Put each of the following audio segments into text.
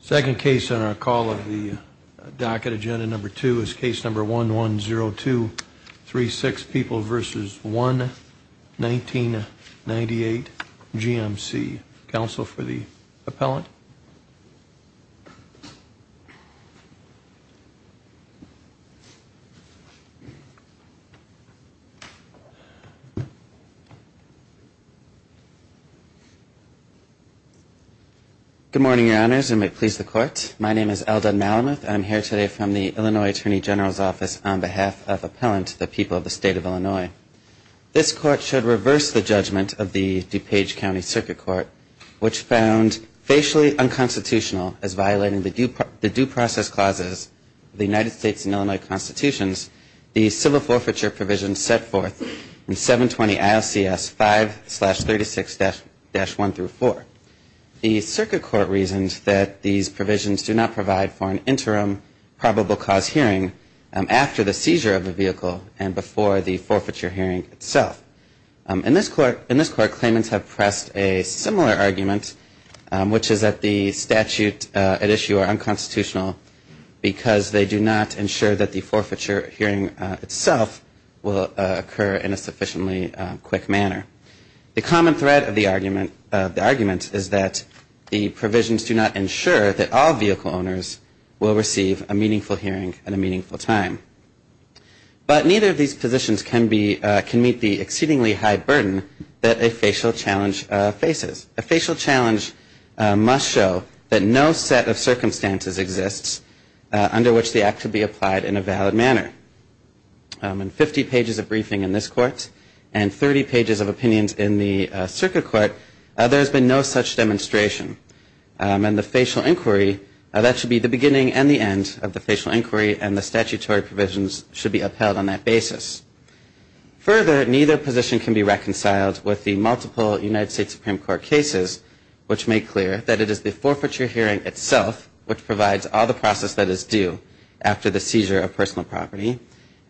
Second case on our call of the docket agenda number two is case number one one zero two three six people versus one 1998 GMC counsel for the appellant Good morning your honors and may it please the court. My name is Eldon Malamuth I'm here today from the Illinois Attorney General's office on behalf of appellant to the people of the state of Illinois This court should reverse the judgment of the DuPage County Circuit Court, which found Facially unconstitutional as violating the due process clauses the United States and Illinois Constitutions the civil forfeiture provisions set forth in 720 ILC s 5 36 dash dash 1 through 4 the circuit court reasons that these provisions do not provide for an interim Probable cause hearing after the seizure of the vehicle and before the forfeiture hearing itself In this court in this court claimants have pressed a similar argument Which is that the statute at issue are unconstitutional? Because they do not ensure that the forfeiture hearing itself will occur in a sufficiently quick manner The common thread of the argument of the argument is that the provisions do not ensure that all vehicle owners Will receive a meaningful hearing and a meaningful time But neither of these positions can be can meet the exceedingly high burden that a facial challenge Faces a facial challenge Must show that no set of circumstances exists under which the act should be applied in a valid manner And 50 pages of briefing in this court and 30 pages of opinions in the circuit court. There's been no such demonstration And the facial inquiry that should be the beginning and the end of the facial inquiry and the statutory provisions should be upheld on that basis Further neither position can be reconciled with the multiple United States Supreme Court cases Which make clear that it is the forfeiture hearing itself which provides all the process that is due After the seizure of personal property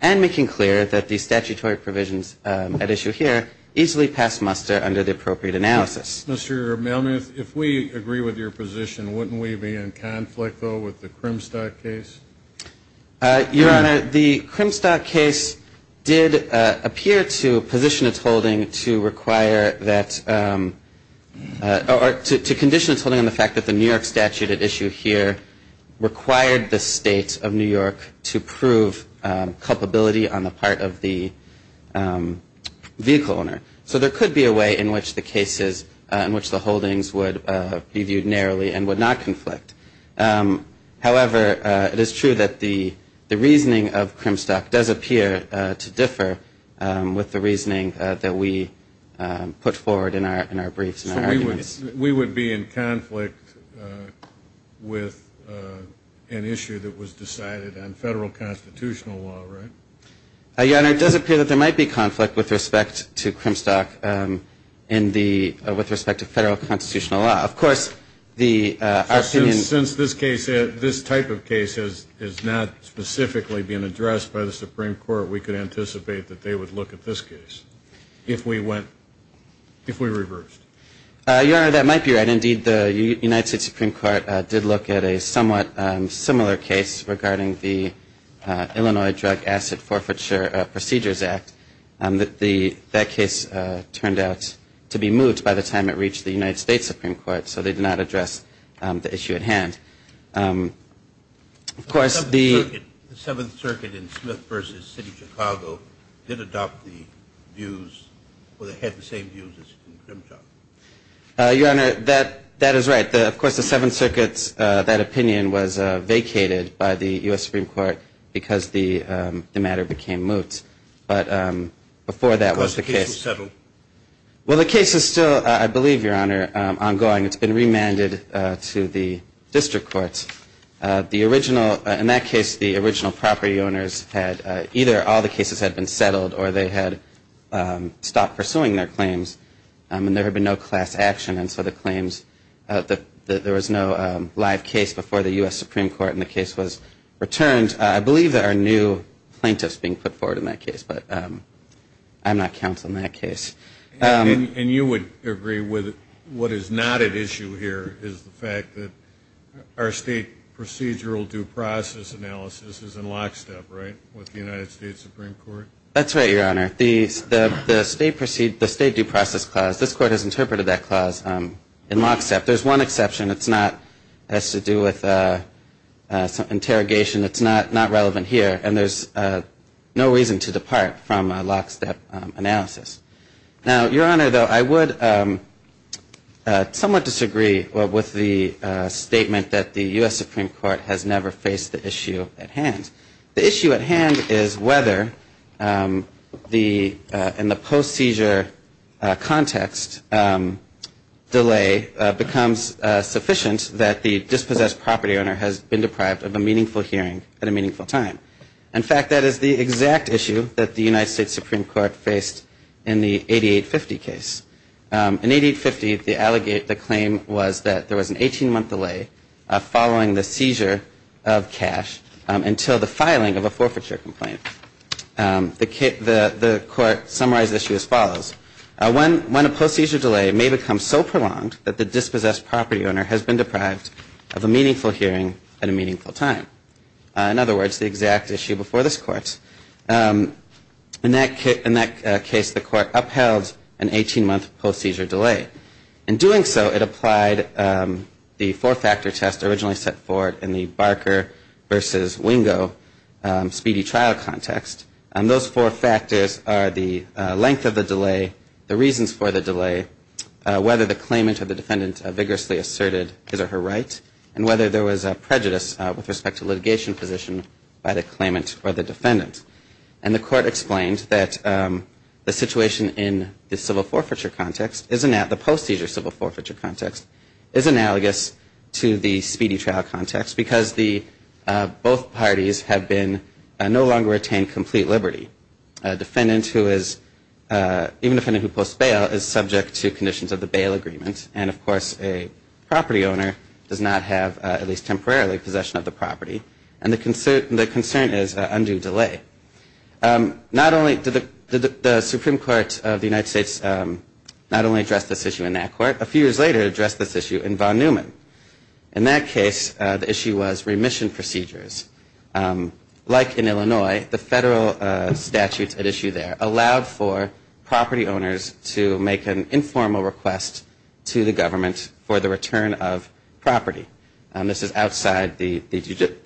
and making clear that the statutory provisions at issue here easily pass muster under the appropriate analysis Mr. Melnick if we agree with your position wouldn't we be in conflict though with the crimstock case? Your honor the crimstock case did appear to position its holding to require that Or to condition its holding on the fact that the New York statute at issue here required the state of New York to prove culpability on the part of the Vehicle owner so there could be a way in which the cases in which the holdings would be viewed narrowly and would not conflict However, it is true that the the reasoning of crimstock does appear to differ with the reasoning that we Put forward in our in our briefs. We would we would be in conflict with An issue that was decided on federal constitutional law, right? Yeah, it does appear that there might be conflict with respect to crimstock in the with respect to federal constitutional law Of course the Since this case this type of case is is not specifically being addressed by the Supreme Court We could anticipate that they would look at this case if we went If we reversed Your honor that might be right. Indeed. The United States Supreme Court did look at a somewhat similar case regarding the Illinois drug asset forfeiture procedures act that the that case Turned out to be moved by the time it reached the United States Supreme Court, so they did not address the issue at hand Of course the Seventh Circuit in Smith vs. City, Chicago did adopt the views or they had the same views as in crimtock Your honor that that is right the of course the Seventh Circuit's that opinion was vacated by the US Supreme Court because the matter became moot but Before that was the case settled Well, the case is still I believe your honor ongoing. It's been remanded to the district courts the original in that case the original property owners had either all the cases had been settled or they had Stopped pursuing their claims and there had been no class action And so the claims that there was no live case before the US Supreme Court and the case was returned I believe that our new plaintiffs being put forward in that case, but I'm not counsel in that case And you would agree with what is not at issue here is the fact that our state? Procedural due process analysis is in lockstep, right? That's right your honor these the state proceed the state due process clause this court has interpreted that clause in lockstep There's one exception. It's not has to do with Interrogation it's not not relevant here, and there's no reason to depart from a lockstep analysis now your honor though I would Somewhat disagree with the Statement that the US Supreme Court has never faced the issue at hand the issue at hand is whether the in the post seizure context Delay becomes Sufficient that the dispossessed property owner has been deprived of a meaningful hearing at a meaningful time in fact That is the exact issue that the United States Supreme Court faced in the 8850 case In 8850 the allegate the claim was that there was an 18 month delay Following the seizure of cash until the filing of a forfeiture complaint The kit the the court summarized issue as follows When when a post-seizure delay may become so prolonged that the dispossessed property owner has been deprived of a meaningful hearing at a meaningful time In other words the exact issue before this court In that case in that case the court upheld an 18 month post-seizure delay in doing so it applied The four-factor test originally set forward in the Barker versus Wingo Speedy trial context and those four factors are the length of the delay the reasons for the delay Whether the claimant or the defendant vigorously asserted his or her right and whether there was a prejudice with respect to litigation position by the claimant or the defendant and the court explained that the situation in the civil forfeiture context isn't at the post-seizure civil forfeiture context is analogous to the speedy trial context because the Both parties have been no longer attained complete Liberty defendant who is even if any who post bail is subject to conditions of the bail agreement and of course a Property owner does not have at least temporarily possession of the property and the concern the concern is undue delay Not only did the the Supreme Court of the United States Not only address this issue in that court a few years later address this issue in von Neumann in that case The issue was remission procedures like in Illinois the federal statutes at issue there allowed for property owners to make an informal request to the government for the return of Property and this is outside the the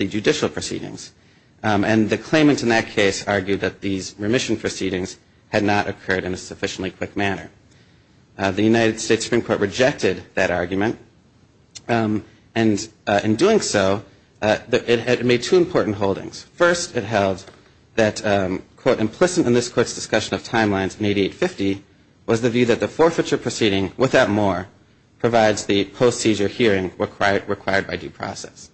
judicial proceedings And the claimant in that case argued that these remission proceedings had not occurred in a sufficiently quick manner the United States Supreme Court rejected that argument and In doing so that it had made two important holdings first it held that Quote implicit in this court's discussion of timelines in 8850 was the view that the forfeiture proceeding without more Provides the post-seizure hearing were quite required by due process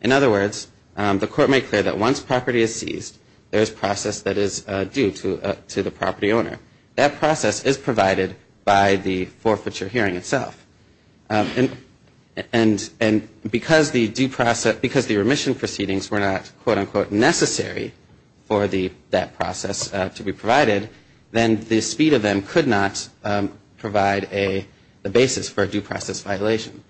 in other words The court may clear that once property is seized there is process that is due to to the property owner That process is provided by the forfeiture hearing itself And and and because the due process because the remission proceedings were not quote-unquote necessary For the that process to be provided then the speed of them could not provide a basis for a due process violation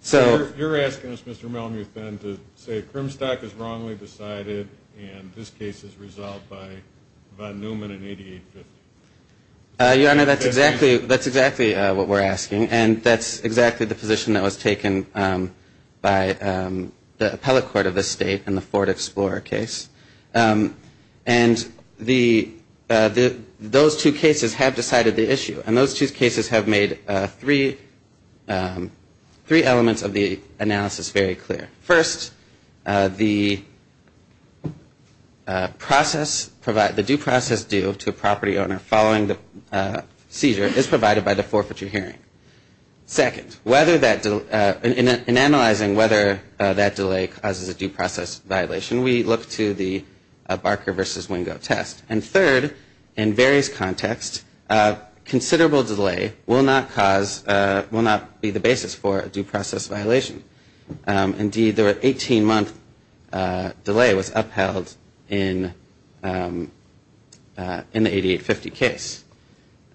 So you're asking us mr. Malmuth and to say crimstock is wrongly decided and this case is resolved by Newman in 88 I know that's exactly that's exactly what we're asking and that's exactly the position that was taken by the appellate court of the state and the Ford Explorer case and the The those two cases have decided the issue and those two cases have made three Three elements of the analysis very clear first the Process provide the due process due to a property owner following the seizure is provided by the forfeiture hearing Second whether that do in analyzing whether that delay causes a due process violation We look to the Barker versus Wingo test and third in various context Considerable delay will not cause will not be the basis for a due process violation Indeed there were 18 month Delay was upheld in In the 8850 case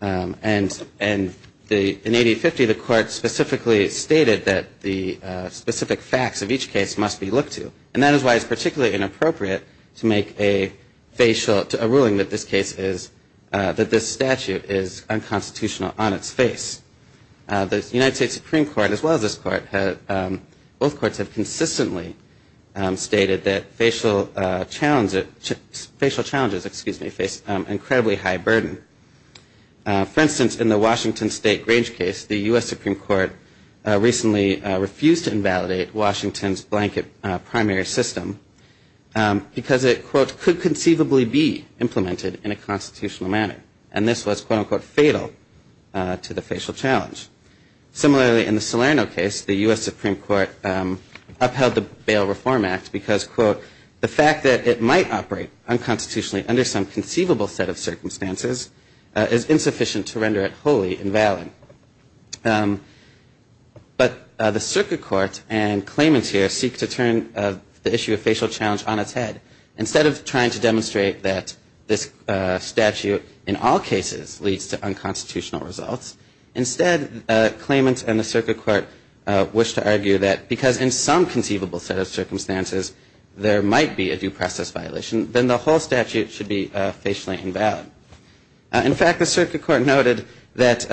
and and the in 8050 the court specifically stated that the specific facts of each case must be looked to and that is why it's particularly inappropriate to make a Facial to a ruling that this case is that this statute is unconstitutional on its face The United States Supreme Court as well as this court had both courts have consistently Stated that facial challenge of facial challenges, excuse me face incredibly high burden For instance in the Washington State Grange case the US Supreme Court Recently refused to invalidate Washington's blanket primary system Because it quote could conceivably be implemented in a constitutional manner and this was quote-unquote fatal to the facial challenge similarly in the Salerno case the US Supreme Court Upheld the bail Reform Act because quote the fact that it might operate unconstitutionally under some conceivable set of circumstances Is insufficient to render it wholly invalid? But the Circuit Court and claimants here seek to turn the issue of facial challenge on its head instead of trying to demonstrate that this Statute in all cases leads to unconstitutional results instead Claimants and the Circuit Court Wished to argue that because in some conceivable set of circumstances There might be a due process violation then the whole statute should be facially invalid in fact the Circuit Court noted that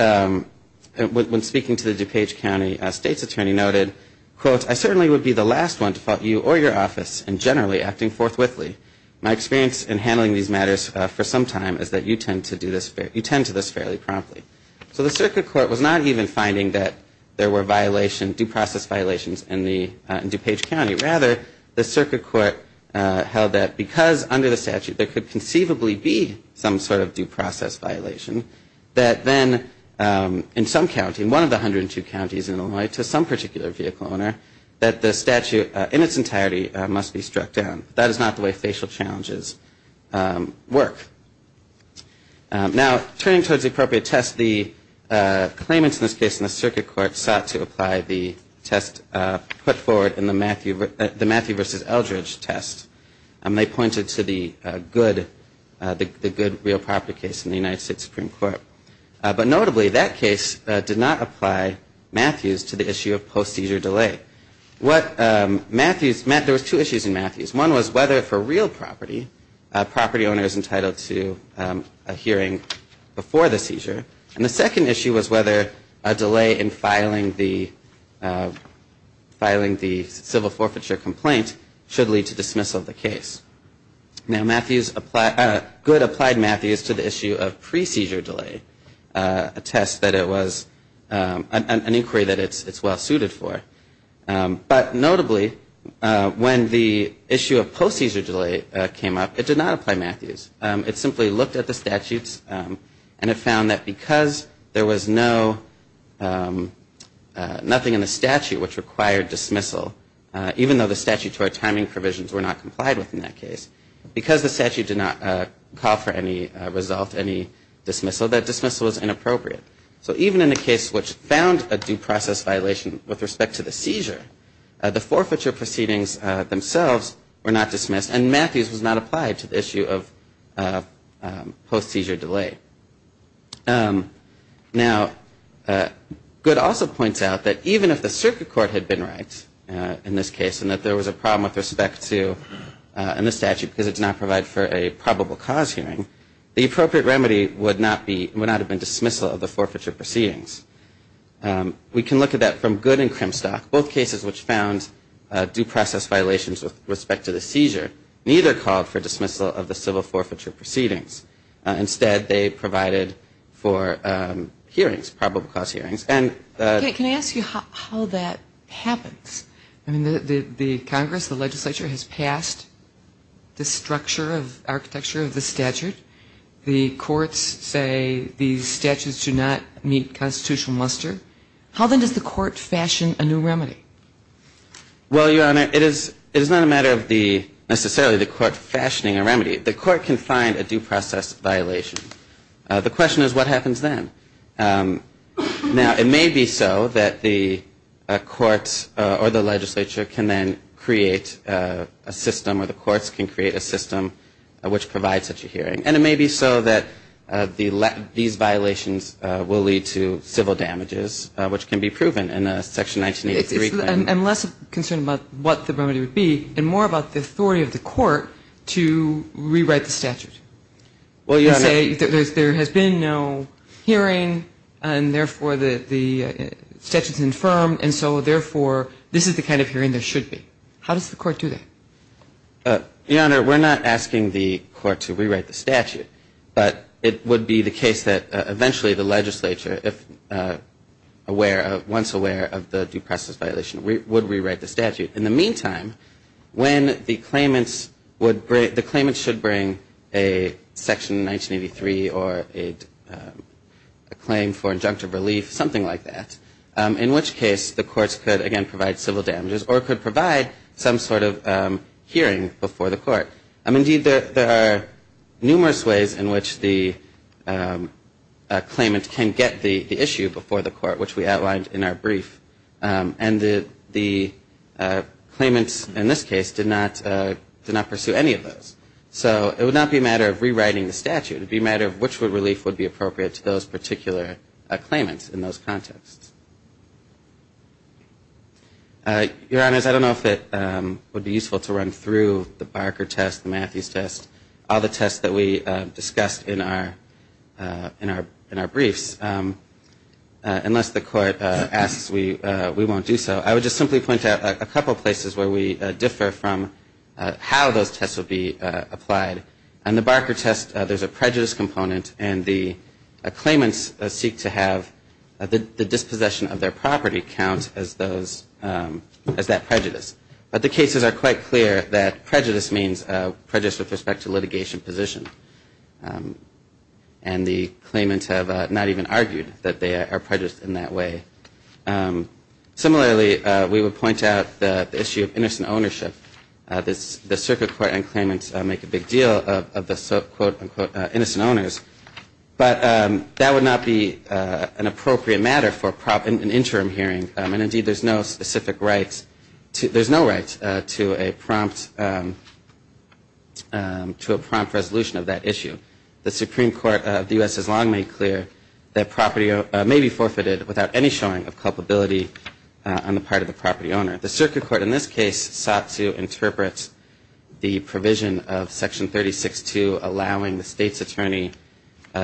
When speaking to the DuPage County State's attorney noted quote I certainly would be the last one to fought you or your office and generally acting forthwith Lee My experience in handling these matters for some time is that you tend to do this fair you tend to this fairly promptly So the Circuit Court was not even finding that there were violation due process violations in the DuPage County rather the Circuit Court Held that because under the statute there could conceivably be some sort of due process violation that then In some county in one of the hundred and two counties in Illinois to some particular vehicle owner that the statute in its entirety Must be struck down that is not the way facial challenges work Now turning towards the appropriate test the Claimants in this case in the Circuit Court sought to apply the test Put forward in the Matthew the Matthew versus Eldridge test and they pointed to the good The good real property case in the United States Supreme Court, but notably that case did not apply Matthews to the issue of post-seizure delay what? Matthews Matt there was two issues in Matthews one was whether for real property Property owner is entitled to a hearing before the seizure and the second issue was whether a delay in filing the Filing the civil forfeiture complaint should lead to dismissal of the case Now Matthews apply good applied Matthews to the issue of pre-seizure delay Attests that it was an inquiry that it's it's well suited for but notably When the issue of post-seizure delay came up it did not apply Matthews It simply looked at the statutes and it found that because there was no Nothing in the statute which required dismissal Even though the statutory timing provisions were not complied with in that case because the statute did not call for any result any Dismissal that dismissal was inappropriate. So even in a case which found a due process violation with respect to the seizure The forfeiture proceedings themselves were not dismissed and Matthews was not applied to the issue of post-seizure delay Now Good also points out that even if the circuit court had been right in this case and that there was a problem with respect to And the statute because it's not provide for a probable cause hearing The appropriate remedy would not be would not have been dismissal of the forfeiture proceedings We can look at that from good and crim stock both cases which found Due process violations with respect to the seizure neither called for dismissal of the civil forfeiture proceedings instead they provided for hearings probable cause hearings and Can I ask you how that happens? I mean the the Congress the legislature has passed The structure of architecture of the statute the courts say these statutes do not meet Constitutional muster how then does the court fashion a new remedy? Well, your honor it is it is not a matter of the necessarily the court fashioning a remedy the court can find a due process violation the question is what happens then now it may be so that the Courts or the legislature can then create a system where the courts can create a system Which provides such a hearing and it may be so that the let these violations will lead to civil damages which can be proven in a section 1983 and less of concern about what the remedy would be and more about the authority of the court to Rewrite the statute well, you say there has been no hearing and therefore the the Statutes infirmed and so therefore this is the kind of hearing there should be how does the court do that? Your honor. We're not asking the court to rewrite the statute, but it would be the case that eventually the legislature if Aware of once aware of the due process violation. We would rewrite the statute in the meantime when the claimants would break the claimants should bring a section 1983 or a Claim for injunctive relief something like that in which case the courts could again provide civil damages or could provide some sort of Hearing before the court. I'm indeed that there are numerous ways in which the Claimant can get the issue before the court which we outlined in our brief and the the Claimants in this case did not Did not pursue any of those So it would not be a matter of rewriting the statute would be a matter of which would relief would be appropriate to those particular claimants in those contexts Your honors, I don't know if it would be useful to run through the Barker test the Matthews test all the tests that we discussed in our in our in our briefs Unless the court asks we we won't do so I would just simply point out a couple places where we differ from how those tests will be applied and the Barker test there's a prejudice component and the claimants seek to have the dispossession of their property count as those As that prejudice, but the cases are quite clear that prejudice means prejudice with respect to litigation position and The claimants have not even argued that they are prejudiced in that way Similarly we would point out the issue of innocent ownership This the circuit court and claimants make a big deal of the quote-unquote innocent owners But that would not be an appropriate matter for prop an interim hearing and indeed. There's no specific rights There's no rights to a prompt To a prompt resolution of that issue The Supreme Court of the u.s. Is long made clear that property may be forfeited without any showing of culpability On the part of the property owner the circuit court in this case sought to interpret The provision of section 36 to allowing the state's attorney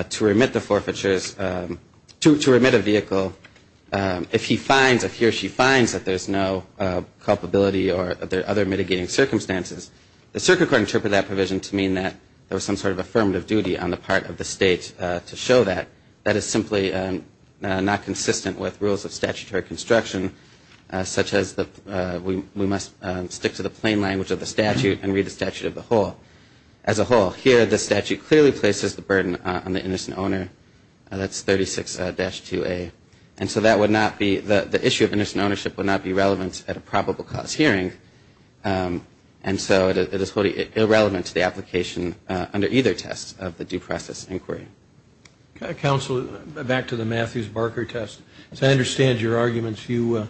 to remit the forfeitures to remit a vehicle If he finds if he or she finds that there's no Culpability or other mitigating circumstances the circuit court interpret that provision to mean that there was some sort of affirmative duty on the part of the state To show that that is simply not consistent with rules of statutory construction such as the we must stick to the plain language of the statute and read the statute of the whole as A whole here the statute clearly places the burden on the innocent owner That's 36-2 a and so that would not be the the issue of innocent ownership would not be relevant at a probable cause hearing And so it is wholly irrelevant to the application under either test of the due process inquiry Counselor back to the Matthews Barker test as I understand your arguments you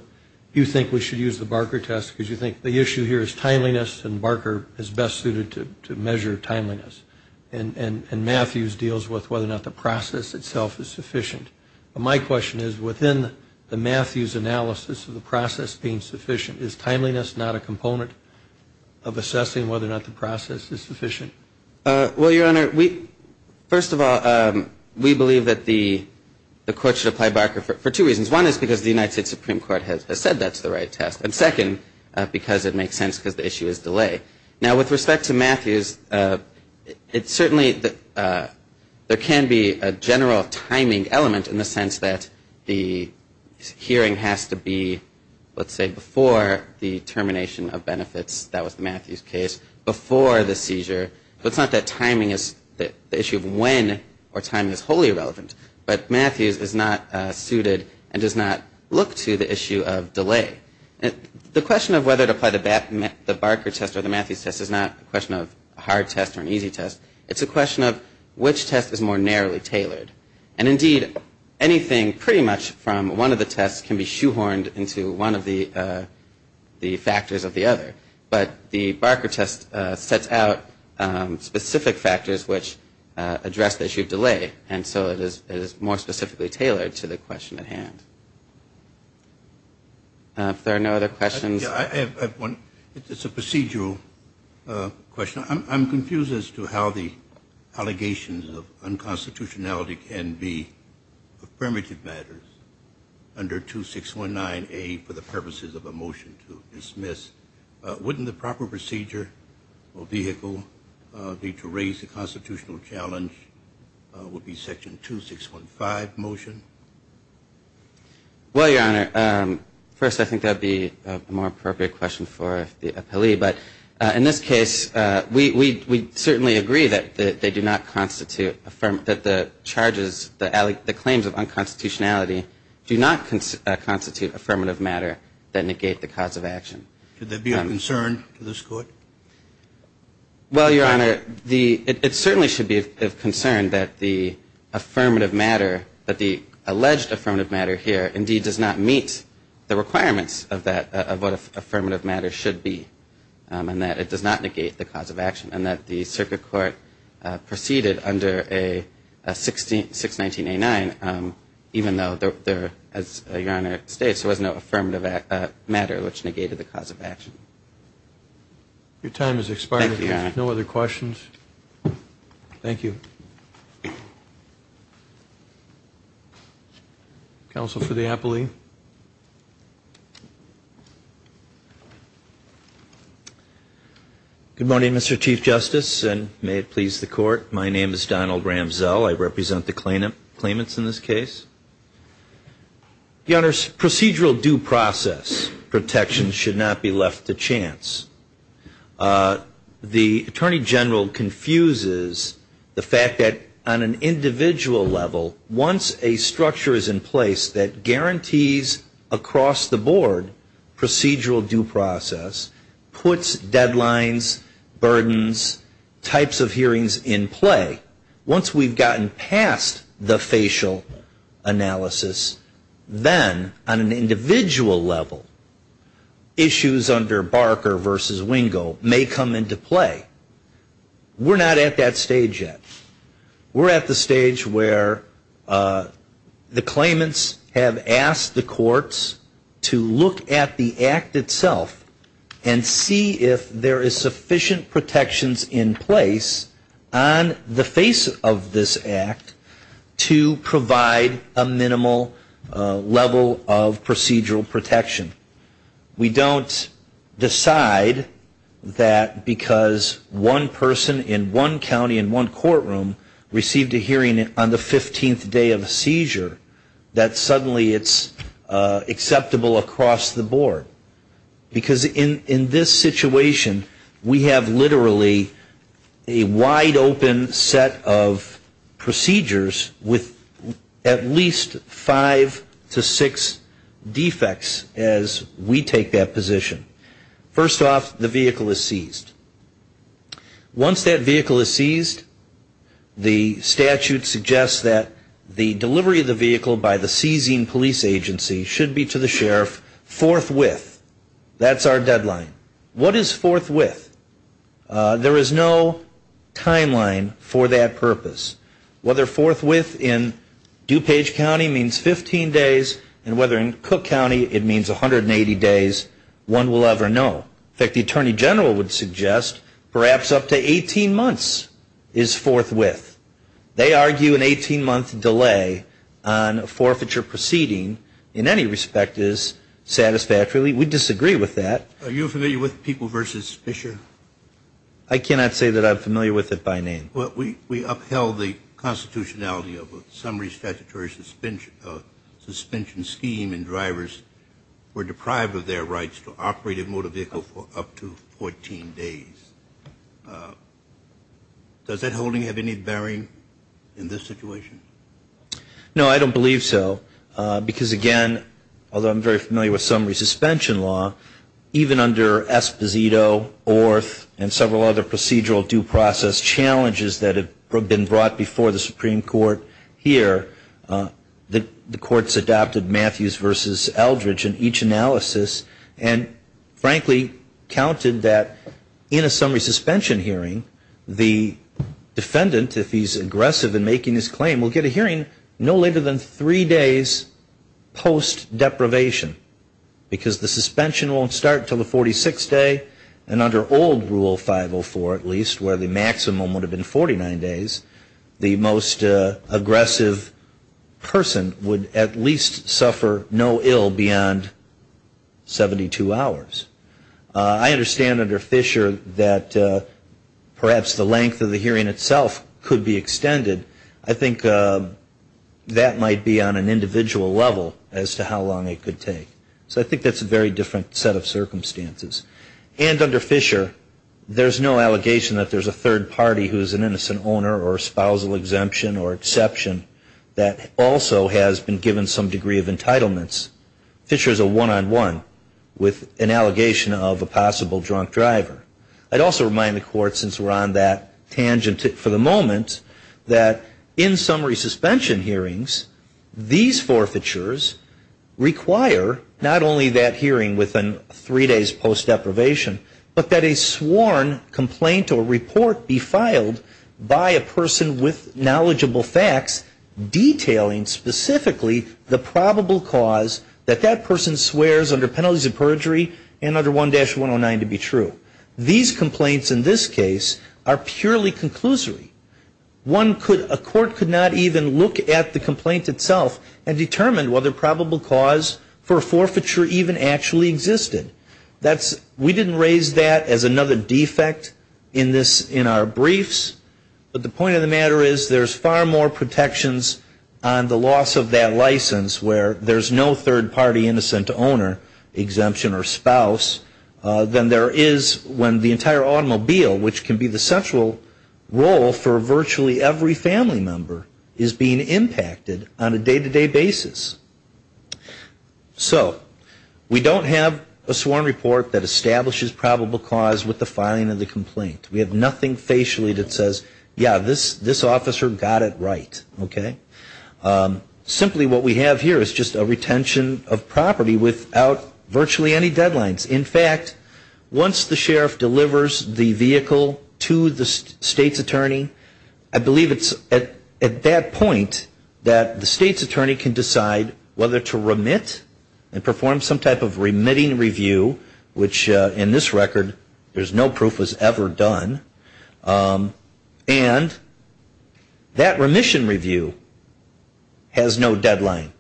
you think we should use the Barker test because you think the issue here is timeliness and Barker is best suited to measure timeliness and Matthews deals with whether or not the process itself is sufficient my question is within the Matthews analysis of the process being sufficient is timeliness not a component of Assessing whether or not the process is sufficient well your honor we first of all we believe that the The court should apply Barker for two reasons one is because the United States Supreme Court has said that's the right test and second Because it makes sense because the issue is delay now with respect to Matthews It's certainly that there can be a general timing element in the sense that the Hearing has to be let's say before the termination of benefits That was the Matthews case before the seizure But it's not that timing is that the issue of when or time is wholly irrelevant But Matthews is not suited and does not look to the issue of delay The question of whether to apply the Batman the Barker test or the Matthews test is not a question of a hard test or an Easy test. It's a question of which test is more narrowly tailored and indeed anything pretty much from one of the tests can be shoehorned into one of the The factors of the other but the Barker test sets out specific factors which Address the issue of delay and so it is more specifically tailored to the question at hand If there are no other questions It's a procedural question I'm confused as to how the allegations of unconstitutionality can be affirmative matters Under two six one nine a for the purposes of a motion to dismiss Wouldn't the proper procedure or vehicle be to raise the constitutional challenge? Would be section two six one five motion Well, your honor first, I think that'd be a more appropriate question for the appellee But in this case, we we certainly agree that they do not constitute affirm that the charges the alley the claims of Unconstitutionality do not constitute affirmative matter that negate the cause of action. Could there be a concern to this court? well, your honor the it certainly should be of concern that the Affirmative matter but the alleged affirmative matter here indeed does not meet the requirements of that of what if affirmative matter should be And that it does not negate the cause of action and that the circuit court proceeded under a 16 619 a 9 Even though there as your honor states, there was no affirmative act matter which negated the cause of action Your time is expired. Yeah, no other questions Thank you Counsel for the appellee Good morning, mr. Chief Justice and may it please the court. My name is Donald Ramsell. I represent the claimant claimants in this case The honors procedural due process protections should not be left to chance The Attorney General confuses the fact that on an individual Level once a structure is in place that guarantees across the board procedural due process puts deadlines burdens Types of hearings in play once we've gotten past the facial analysis then on an individual level Issues under Barker versus Wingo may come into play We're not at that stage yet We're at the stage where the claimants have asked the courts to look at the act itself and See if there is sufficient protections in place on the face of this act to provide a minimal level of procedural protection we don't decide That because one person in one county in one courtroom Received a hearing on the 15th day of a seizure that suddenly it's acceptable across the board because in in this situation we have literally a wide open set of procedures with at least five to six Defects as we take that position first off the vehicle is seized Once that vehicle is seized The statute suggests that the delivery of the vehicle by the seizing police agency should be to the sheriff Forthwith that's our deadline. What is forthwith? There is no timeline for that purpose whether forthwith in Eupage County means 15 days and whether in Cook County it means 180 days One will ever know. In fact the Attorney General would suggest perhaps up to 18 months is forthwith they argue an 18 month delay on a forfeiture proceeding in any respect is Satisfactorily we disagree with that. Are you familiar with people versus Fisher? I Suspension Suspension scheme and drivers were deprived of their rights to operate a motor vehicle for up to 14 days Does that holding have any bearing in this situation No, I don't believe so Because again, although I'm very familiar with summary suspension law Even under Esposito orth and several other procedural due process challenges that have been brought before the Supreme Court here the the courts adopted Matthews versus Eldridge in each analysis and frankly counted that in a summary suspension hearing the Defendant if he's aggressive in making his claim will get a hearing no later than three days post deprivation Because the suspension won't start till the 46th day and under old rule 504 at least where the maximum would have been 49 days The most aggressive Person would at least suffer no ill beyond 72 hours I understand under Fisher that Perhaps the length of the hearing itself could be extended. I think That might be on an individual level as to how long it could take so I think that's a very different set of circumstances And under Fisher There's no allegation that there's a third party who is an innocent owner or spousal exemption or exception that Also has been given some degree of entitlements Fisher's a one-on-one with an allegation of a possible drunk driver I'd also remind the court since we're on that tangent for the moment that in summary suspension hearings these forfeitures Require not only that hearing within three days post deprivation But that a sworn complaint or report be filed by a person with knowledgeable facts Detailing specifically the probable cause that that person swears under penalties of perjury and under 1-109 to be true These complaints in this case are purely conclusory One could a court could not even look at the complaint itself and determined whether probable cause for a forfeiture even Actually existed that's we didn't raise that as another defect in this in our briefs But the point of the matter is there's far more protections on the loss of that license where there's no third-party innocent owner exemption or spouse Than there is when the entire automobile which can be the central Role for virtually every family member is being impacted on a day-to-day basis So we don't have a sworn report that establishes probable cause with the filing of the complaint We have nothing facially that says yeah this this officer got it, right, okay? Simply what we have here is just a retention of property without virtually any deadlines in fact Once the sheriff delivers the vehicle to the state's attorney I believe it's at at that point that the state's attorney can decide whether to remit and Perform some type of remitting review which in this record. There's no proof was ever done and That remission review Has no deadline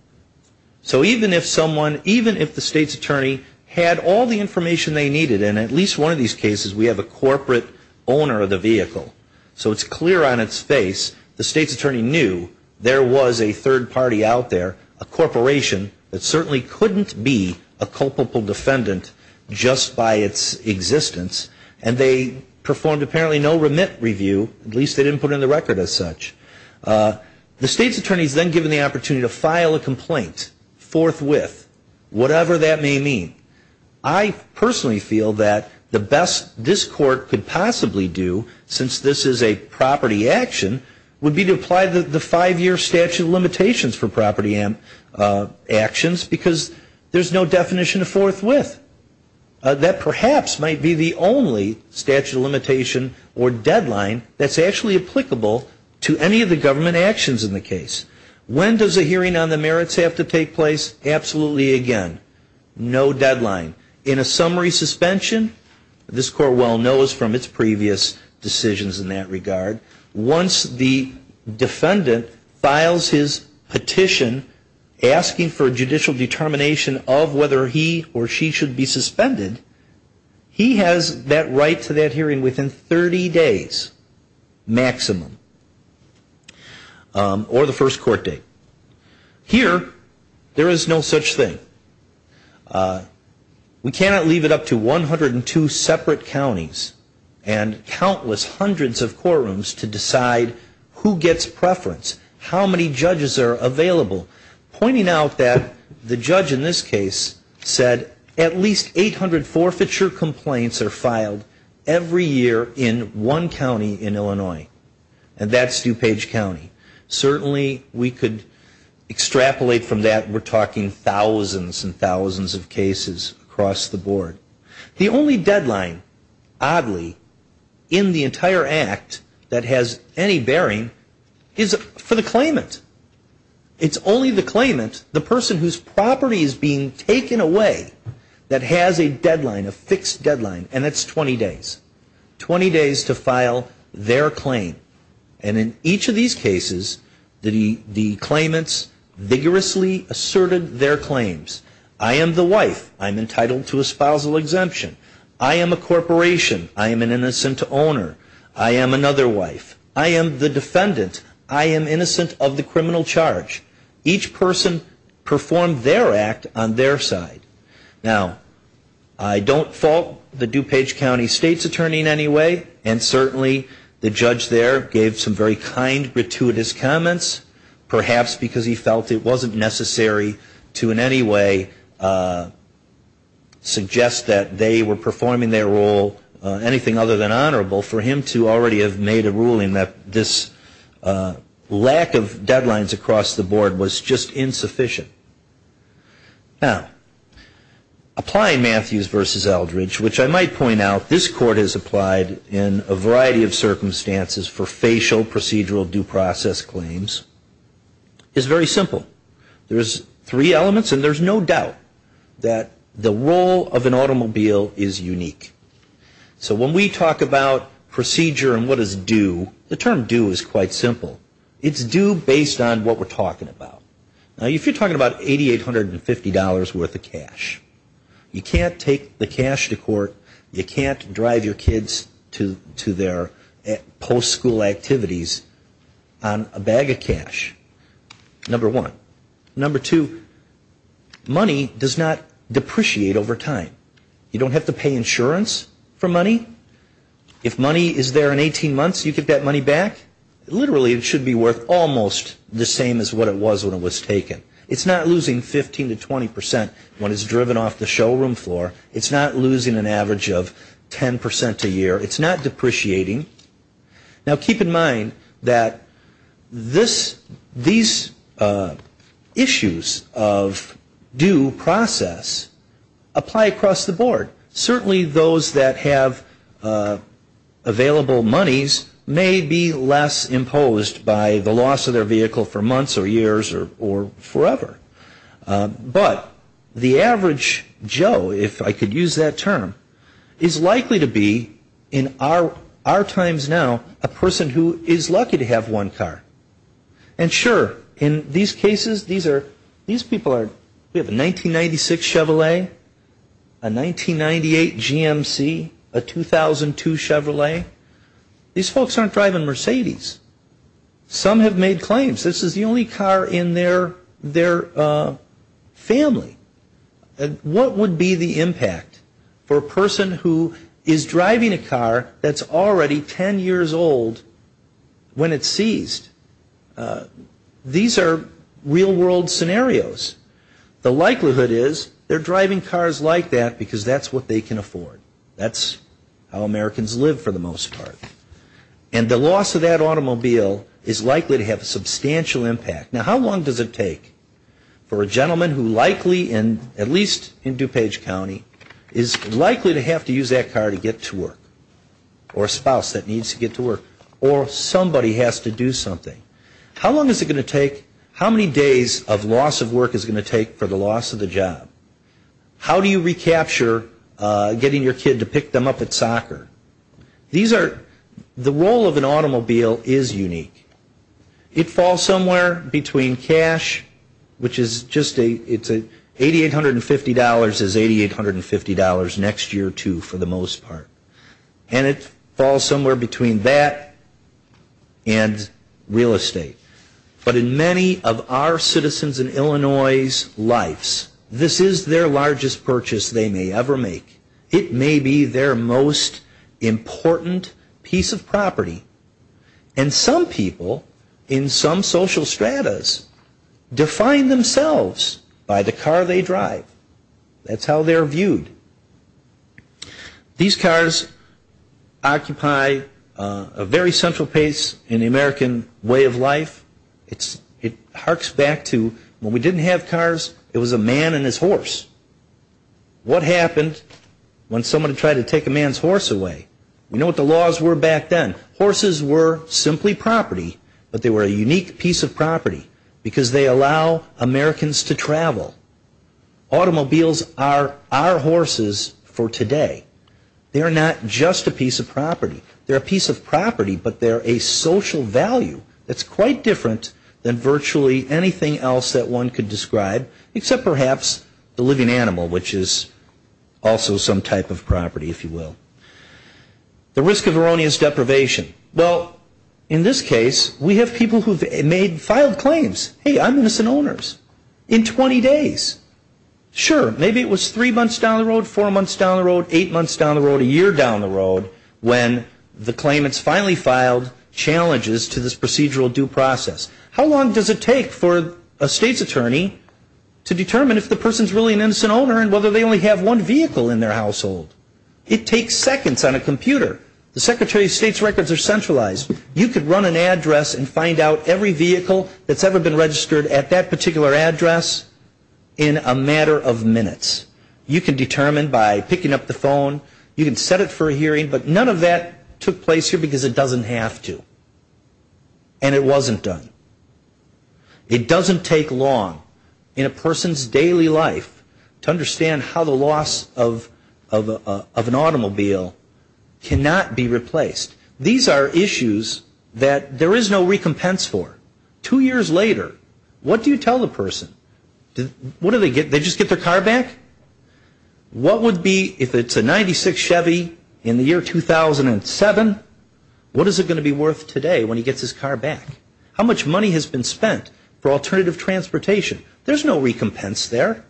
So even if someone even if the state's attorney had all the information they needed and at least one of these cases We have a corporate owner of the vehicle, so it's clear on its face the state's attorney knew There was a third party out there a corporation that certainly couldn't be a culpable defendant Just by its existence, and they performed apparently no remit review at least they didn't put in the record as such The state's attorneys then given the opportunity to file a complaint forthwith whatever that may mean I Personally feel that the best this court could possibly do since this is a property action Would be to apply the the five-year statute of limitations for property and Actions because there's no definition of forthwith That perhaps might be the only statute of limitation or deadline That's actually applicable to any of the government actions in the case when does a hearing on the merits have to take place absolutely again? No deadline in a summary suspension This court well knows from its previous decisions in that regard once the defendant files his petition Asking for a judicial determination of whether he or she should be suspended He has that right to that hearing within 30 days maximum Or the first court date Here there is no such thing We cannot leave it up to 102 separate counties and Countless hundreds of courtrooms to decide who gets preference how many judges are available? Pointing out that the judge in this case said at least 800 forfeiture complaints are filed Every year in one county in Illinois, and that's DuPage County certainly we could Extrapolate from that we're talking thousands and thousands of cases across the board the only deadline Oddly in the entire act that has any bearing is for the claimant It's only the claimant the person whose property is being taken away That has a deadline a fixed deadline and it's 20 days 20 days to file their claim and in each of these cases the the claimants Vigorously asserted their claims. I am the wife. I'm entitled to a spousal exemption. I am a corporation I am an innocent owner. I am another wife. I am the defendant I am innocent of the criminal charge each person performed their act on their side now I Don't fault the DuPage County State's attorney in any way and certainly the judge there gave some very kind gratuitous comments Perhaps because he felt it wasn't necessary to in any way Suggest that they were performing their role anything other than honorable for him to already have made a ruling that this Lack of deadlines across the board was just insufficient now Applying Matthews versus Eldridge, which I might point out this court has applied in a variety of circumstances for facial procedural due process claims Is very simple. There's three elements and there's no doubt that the role of an automobile is unique So when we talk about Procedure and what is due the term due is quite simple. It's due based on what we're talking about Now if you're talking about eighty eight hundred and fifty dollars worth of cash You can't take the cash to court. You can't drive your kids to to their post-school activities on a bag of cash number one number two Money does not depreciate over time. You don't have to pay insurance for money If money is there in 18 months you could get money back Literally, it should be worth almost the same as what it was when it was taken It's not losing 15 to 20 percent when it's driven off the showroom floor. It's not losing an average of 10 percent a year It's not depreciating now keep in mind that this these Issues of due process apply across the board certainly those that have Available monies may be less imposed by the loss of their vehicle for months or years or forever but the average Joe if I could use that term is likely to be in our our times now a person who is lucky to have one car and Sure in these cases. These are these people are we have a 1996 Chevrolet a 1998 GMC a 2002 Chevrolet These folks aren't driving Mercedes Some have made claims. This is the only car in their their family What would be the impact for a person who is driving a car? That's already 10 years old when it's seized These are real-world Scenarios the likelihood is they're driving cars like that because that's what they can afford that's how Americans live for the most part and The loss of that automobile is likely to have a substantial impact now. How long does it take? for a gentleman who likely in at least in DuPage County is likely to have to use that car to get to work or That needs to get to work or Somebody has to do something How long is it going to take how many days of loss of work is going to take for the loss of the job? How do you recapture? Getting your kid to pick them up at soccer These are the role of an automobile is unique It falls somewhere between cash Which is just a it's a eighty eight hundred and fifty dollars is eighty eight hundred and fifty dollars next year, too for the most part and it falls somewhere between that and Real estate but in many of our citizens in Illinois's Lifes this is their largest purchase. They may ever make it may be their most important piece of property and some people in some social stratas Define themselves by the car they drive That's how they're viewed These cars Occupy a very central pace in the American way of life It's it harks back to when we didn't have cars. It was a man and his horse What happened when someone tried to take a man's horse away? We know what the laws were back then horses were simply property But they were a unique piece of property because they allow Americans to travel Automobiles are our horses for today. They are not just a piece of property They're a piece of property, but they're a social value That's quite different than virtually anything else that one could describe except perhaps the living animal which is Also some type of property if you will The risk of erroneous deprivation well in this case we have people who've made filed claims Hey, I'm innocent owners in 20 days Sure, maybe it was three months down the road four months down the road eight months down the road a year down the road When the claimants finally filed Challenges to this procedural due process. How long does it take for a state's attorney? To determine if the person's really an innocent owner and whether they only have one vehicle in their household It takes seconds on a computer the Secretary of State's records are centralized You could run an address and find out every vehicle that's ever been registered at that particular address in a matter of minutes You can determine by picking up the phone you can set it for a hearing but none of that took place here because it doesn't have to and It wasn't done It doesn't take long in a person's daily life to understand how the loss of of an automobile Cannot be replaced these are issues that there is no recompense for two years later What do you tell the person? What do they get they just get their car back? What would be if it's a 96 Chevy in the year? 2007 what is it going to be worth today when he gets his car back how much money has been spent for alternative transportation? There's no recompense there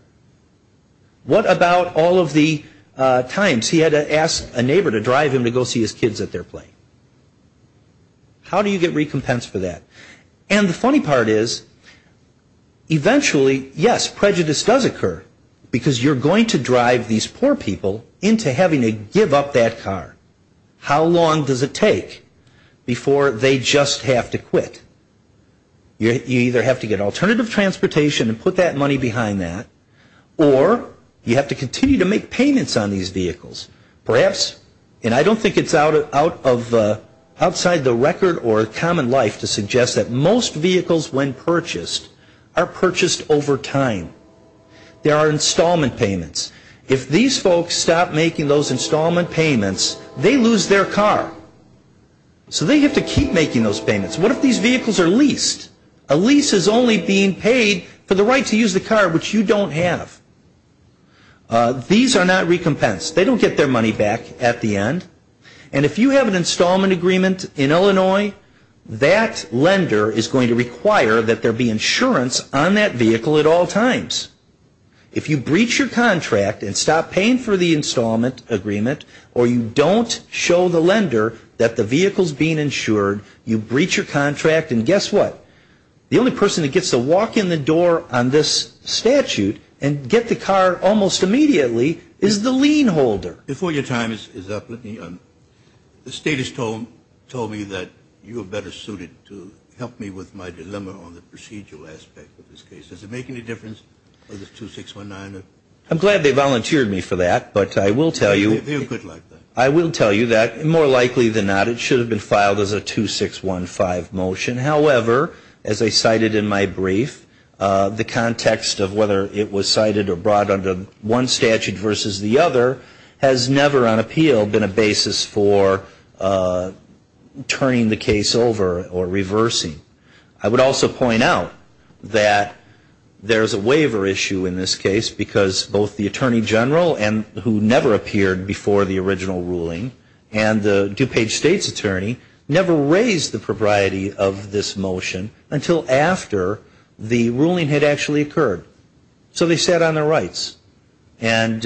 What about all of the times he had to ask a neighbor to drive him to go see his kids at their plane? How do you get recompense for that and the funny part is? Eventually yes prejudice does occur because you're going to drive these poor people into having to give up that car How long does it take? Before they just have to quit You either have to get alternative transportation and put that money behind that or You have to continue to make payments on these vehicles perhaps, and I don't think it's out of Outside the record or common life to suggest that most vehicles when purchased are purchased over time There are installment payments if these folks stop making those installment payments. They lose their car So they have to keep making those payments What if these vehicles are leased a lease is only being paid for the right to use the car, which you don't have These are not recompensed They don't get their money back at the end, and if you have an installment agreement in Illinois That lender is going to require that there be insurance on that vehicle at all times If you breach your contract and stop paying for the installment Agreement or you don't show the lender that the vehicles being insured you breach your contract and guess what? The only person that gets to walk in the door on this Statute and get the car almost immediately is the lien holder before your time is up The state has told told me that you are better suited to help me with my dilemma on the procedural aspect of this case Does it make any difference? I'm glad they volunteered me for that, but I will tell you I will tell you that more likely than not It should have been filed as a two six one five motion However as I cited in my brief The context of whether it was cited or brought under one statute versus the other has never on appeal been a basis for Turning the case over or reversing I would also point out that there's a waiver issue in this case because both the Attorney General and who never appeared before the original ruling and DuPage state's attorney never raised the propriety of this motion until after the ruling had actually occurred so they sat on their rights and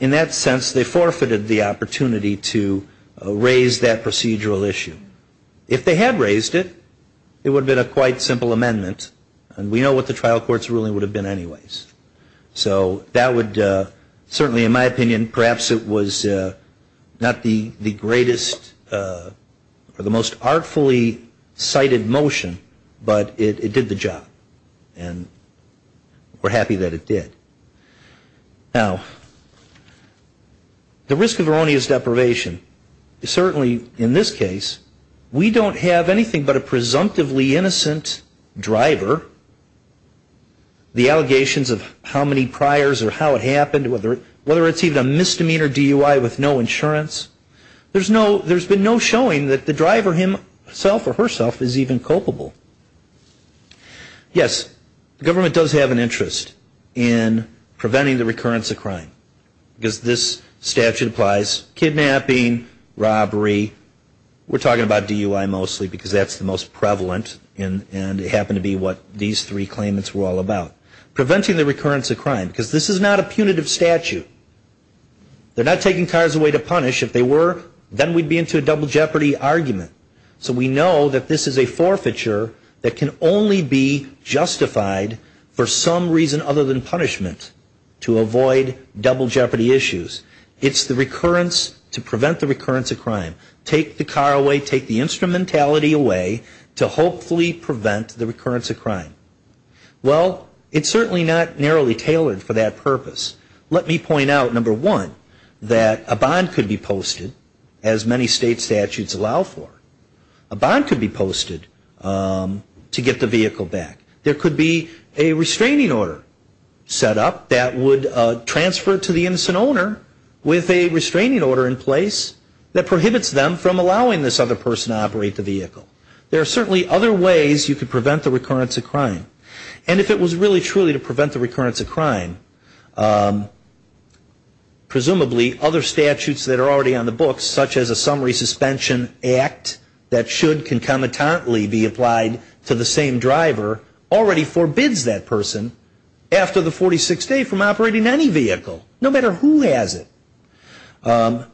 In that sense they forfeited the opportunity to raise that procedural issue if they had raised it It would have been a quite simple amendment and we know what the trial courts ruling would have been anyways So that would certainly in my opinion perhaps it was Not the the greatest Or the most artfully cited motion, but it did the job and We're happy that it did now The risk of erroneous deprivation Certainly in this case. We don't have anything but a presumptively innocent driver The Allegations of how many priors or how it happened whether whether it's even a misdemeanor DUI with no insurance There's no there's been no showing that the driver him self or herself is even culpable Yes, the government does have an interest in Preventing the recurrence of crime because this statute applies kidnapping robbery We're talking about DUI mostly because that's the most prevalent in and it happened to be what these three claimants were all about Preventing the recurrence of crime because this is not a punitive statute They're not taking cars away to punish if they were then we'd be into a double jeopardy argument so we know that this is a forfeiture that can only be Justified for some reason other than punishment to avoid double jeopardy issues It's the recurrence to prevent the recurrence of crime take the car away take the instrumentality away to hopefully Prevent the recurrence of crime Well, it's certainly not narrowly tailored for that purpose let me point out number one that a bond could be posted as many state statutes allow for a Bond could be posted To get the vehicle back. There could be a restraining order Set up that would Transfer to the innocent owner with a restraining order in place that prohibits them from allowing this other person to operate the vehicle There are certainly other ways you could prevent the recurrence of crime. And if it was really truly to prevent the recurrence of crime Presumably other statutes that are already on the books such as a summary suspension Act that should concomitantly be applied to the same driver already forbids that person After the 46 day from operating any vehicle no matter who has it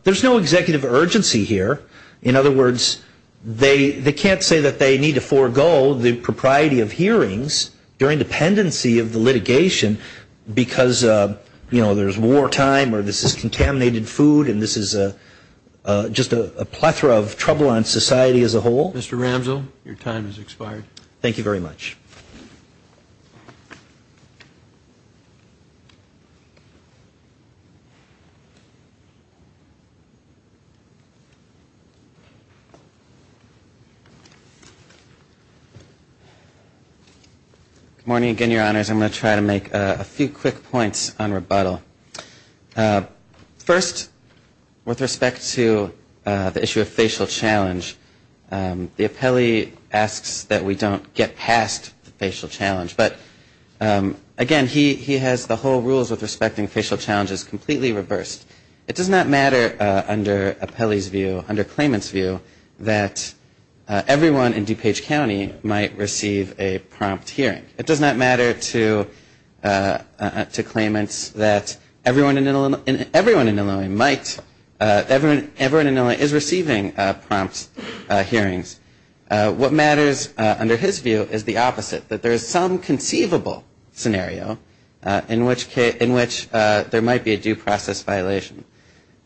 There's no executive urgency here. In other words They they can't say that they need to forego the propriety of hearings during dependency of the litigation because you know, there's wartime or this is contaminated food and this is a Just a plethora of trouble on society as a whole. Mr. Ramsell your time is expired. Thank you very much You Morning again, your honors. I'm going to try to make a few quick points on rebuttal First with respect to the issue of facial challenge the appellee asks that we don't get past the facial challenge, but Again he he has the whole rules with respecting facial challenges completely reversed it does not matter under a Pele's view under claimants view that Everyone in DuPage County might receive a prompt hearing. It does not matter to To claimants that everyone in Illinois and everyone in Illinois might Everyone everyone in Illinois is receiving prompts hearings What matters under his view is the opposite that there's some conceivable Scenario in which case in which there might be a due process violation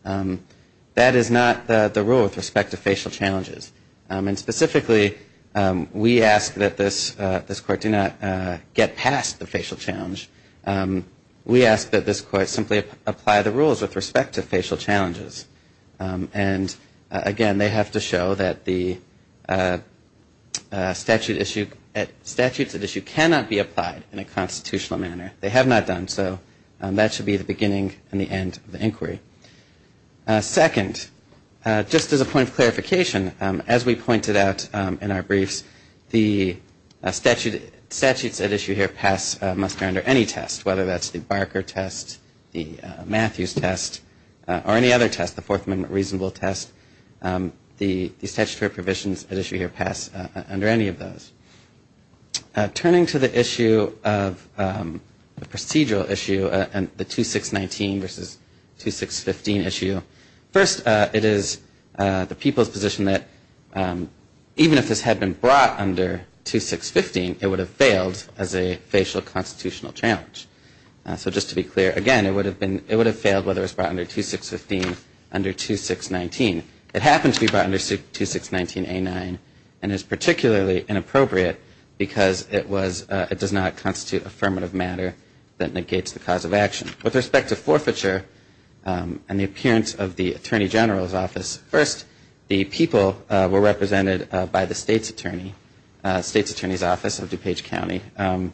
That is not the rule with respect to facial challenges and specifically We ask that this this court do not get past the facial challenge we ask that this court simply apply the rules with respect to facial challenges and again, they have to show that the Statute issue at statutes that issue cannot be applied in a constitutional manner. They have not done So that should be the beginning and the end of the inquiry second just as a point of clarification as we pointed out in our briefs the statute statutes at issue here pass muster under any test whether that's the Barker test the Matthews test or any other test the Fourth Amendment reasonable test The statutory provisions that issue here pass under any of those turning to the issue of the procedural issue and the 2 6 19 versus 2 6 15 issue first it is the people's position that Even if this had been brought under 2 6 15, it would have failed as a facial constitutional challenge So just to be clear again, it would have been it would have failed whether it's brought under 2 6 15 under 2 6 19 It happens to be brought under 6 2 6 19 a 9 and is particularly inappropriate Because it was it does not constitute affirmative matter that negates the cause of action with respect to forfeiture And the appearance of the Attorney General's office first the people were represented by the state's attorney state's attorney's office of DuPage County and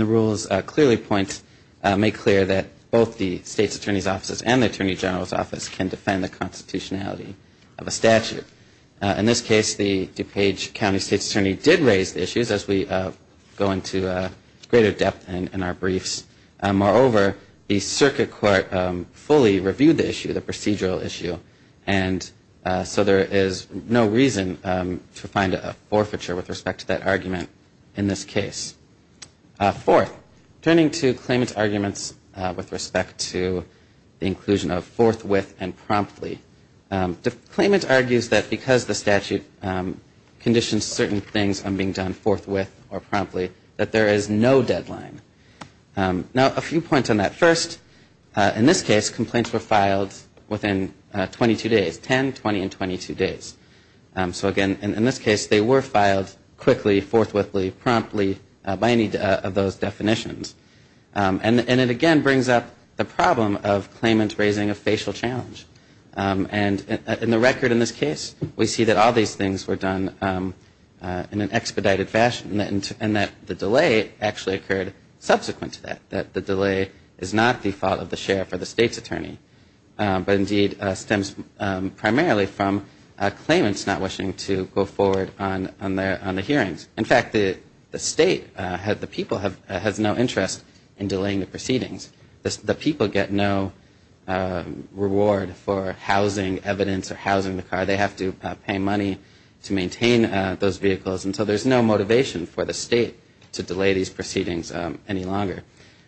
the rules clearly point Make clear that both the state's attorney's offices and the Attorney General's office can defend the constitutionality of a statute In this case the DuPage County State's attorney did raise the issues as we go into a greater depth and in our briefs moreover the Circuit Court fully reviewed the issue the procedural issue and So there is no reason to find a forfeiture with respect to that argument in this case Fourth turning to claimant's arguments with respect to the inclusion of forthwith and promptly claimant argues that because the statute Conditions certain things on being done forthwith or promptly that there is no deadline Now a few points on that first in this case complaints were filed within 22 days 10 20 and 22 days So again in this case they were filed quickly forthwith Lee promptly by any of those definitions And and it again brings up the problem of claimant raising a facial challenge And in the record in this case, we see that all these things were done In an expedited fashion and that the delay actually occurred Subsequent to that that the delay is not the fault of the sheriff or the state's attorney But indeed stems Primarily from a claimant's not wishing to go forward on on their on the hearings In fact, the the state had the people have has no interest in delaying the proceedings. The people get no Reward for housing evidence or housing the car They have to pay money to maintain those vehicles and so there's no motivation for the state to delay these proceedings any longer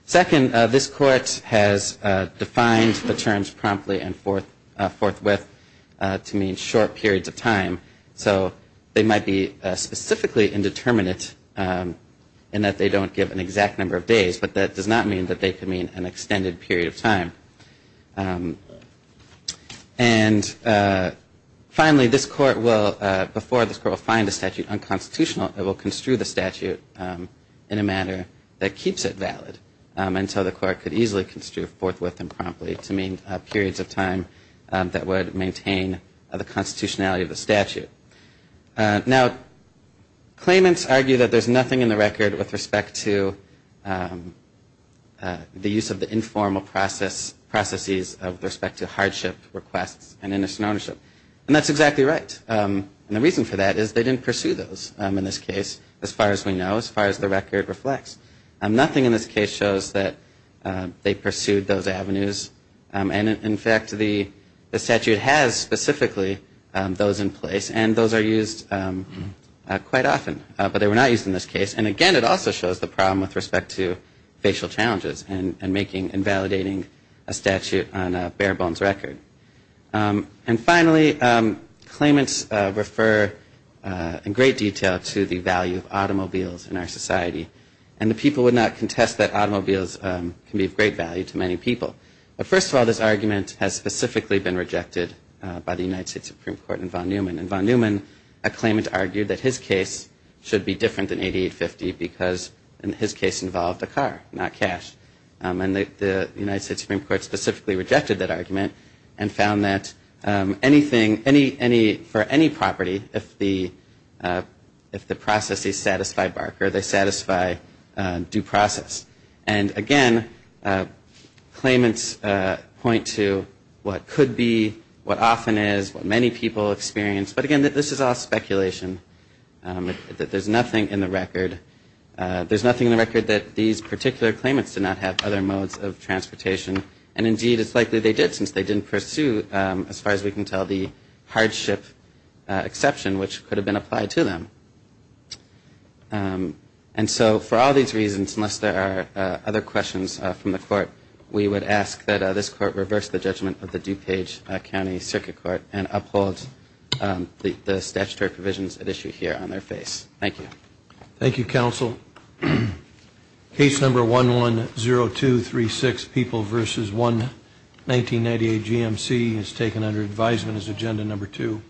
second this court has Defined the terms promptly and forth forthwith to mean short periods of time So they might be specifically indeterminate And that they don't give an exact number of days, but that does not mean that they can mean an extended period of time and Finally this court will before this girl find a statute unconstitutional. It will construe the statute in a manner that keeps it valid Until the court could easily construe forthwith and promptly to mean periods of time that would maintain the constitutionality of the statute now claimants argue that there's nothing in the record with respect to The use of the informal process Processes of respect to hardship requests and innocent ownership and that's exactly right And the reason for that is they didn't pursue those in this case as far as we know as far as the record reflects I'm nothing in this case shows that They pursued those avenues and in fact the statute has specifically those in place and those are used Quite often, but they were not used in this case and again It also shows the problem with respect to facial challenges and making invalidating a statute on a bare-bones record and finally claimants refer In great detail to the value of automobiles in our society and the people would not contest that automobiles Can be of great value to many people but first of all This argument has specifically been rejected by the United States Supreme Court and von Neumann and von Neumann a claimant argued that his case Should be different than 8850 because in his case involved a car not cash and the United States Supreme Court specifically rejected that argument and found that Anything any any for any property if the If the process is satisfied Barker they satisfy due process and again Claimants point to what could be what often is what many people experience, but again that this is all speculation That there's nothing in the record There's nothing in the record that these particular claimants did not have other modes of transportation And indeed, it's likely they did since they didn't pursue as far as we can tell the hardship Exception which could have been applied to them And so for all these reasons unless there are other questions from the court We would ask that this court reverse the judgment of the DuPage County Circuit Court and uphold The statutory provisions at issue here on their face. Thank you. Thank you counsel Case number one one zero two three six people versus one 1998 GMC is taken under advisement as agenda number two